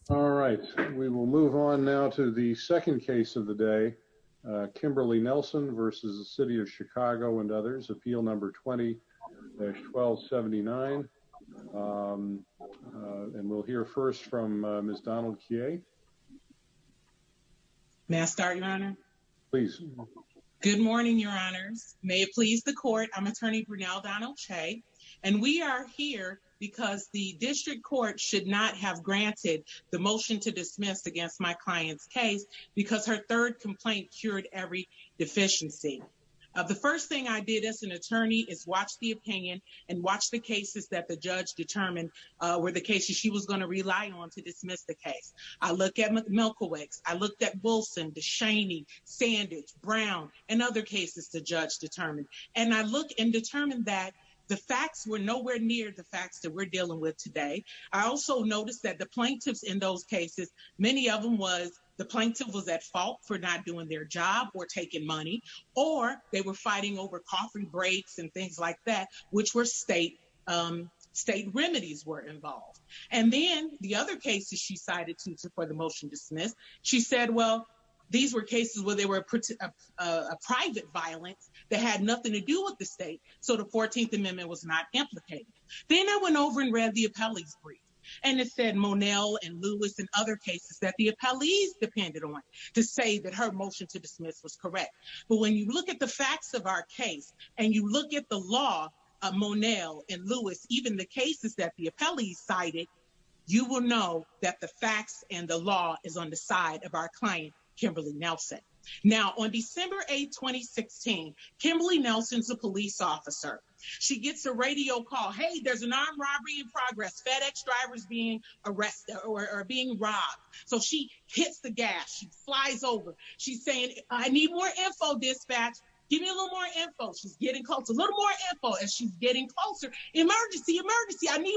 All right, we will move on now to the second case of the day. Kimberly Nelson versus the City of Chicago and others. Appeal number 20-1279. And we'll hear first from Ms. Donald-Kyea. May I start, Your Honor? Please. Good morning, Your Honors. May it please the court, I'm Attorney Brinell Donald-Kyea, and we are here because the District Court should not have granted the motion to dismiss against my client's case because her third complaint cured every deficiency. The first thing I did as an attorney is watch the opinion and watch the cases that the judge determined were the cases she was going to rely on to dismiss the case. I looked at Milkowick's, I looked at Wilson, DeShaney, Sanders, Brown, and other cases the judge determined. And I looked and determined that the facts were nowhere near the facts that we're dealing with today. I also noticed that the plaintiffs in those cases, many of them was the plaintiff was at fault for not doing their job or taking money, or they were fighting over coughing breaks and things like that, which were state, state remedies were involved. And then the other cases she cited to support the motion to dismiss, she said, well, these were cases where they were a private violence that had nothing to do with the state. So the 14th Amendment was not implicated. Then I went over and read the appellee's brief. And it said Monell and Lewis and other cases that the appellees depended on to say that her motion to dismiss was correct. But when you look at the facts of our case, and you look at the law of Monell and Lewis, even the cases that the appellees cited, you will know that the facts and the law is on the side of our client, Kimberly Nelson. Now on December 8, 2016, Kimberly Nelson's a police officer. She gets a radio call, hey, there's an armed robbery in progress, FedEx drivers being arrested or being robbed. So she hits the gas, flies over. She's saying, I need more info dispatch. Give me a little more info. She's getting close, a little more info as she's getting closer. Emergency, emergency, I need.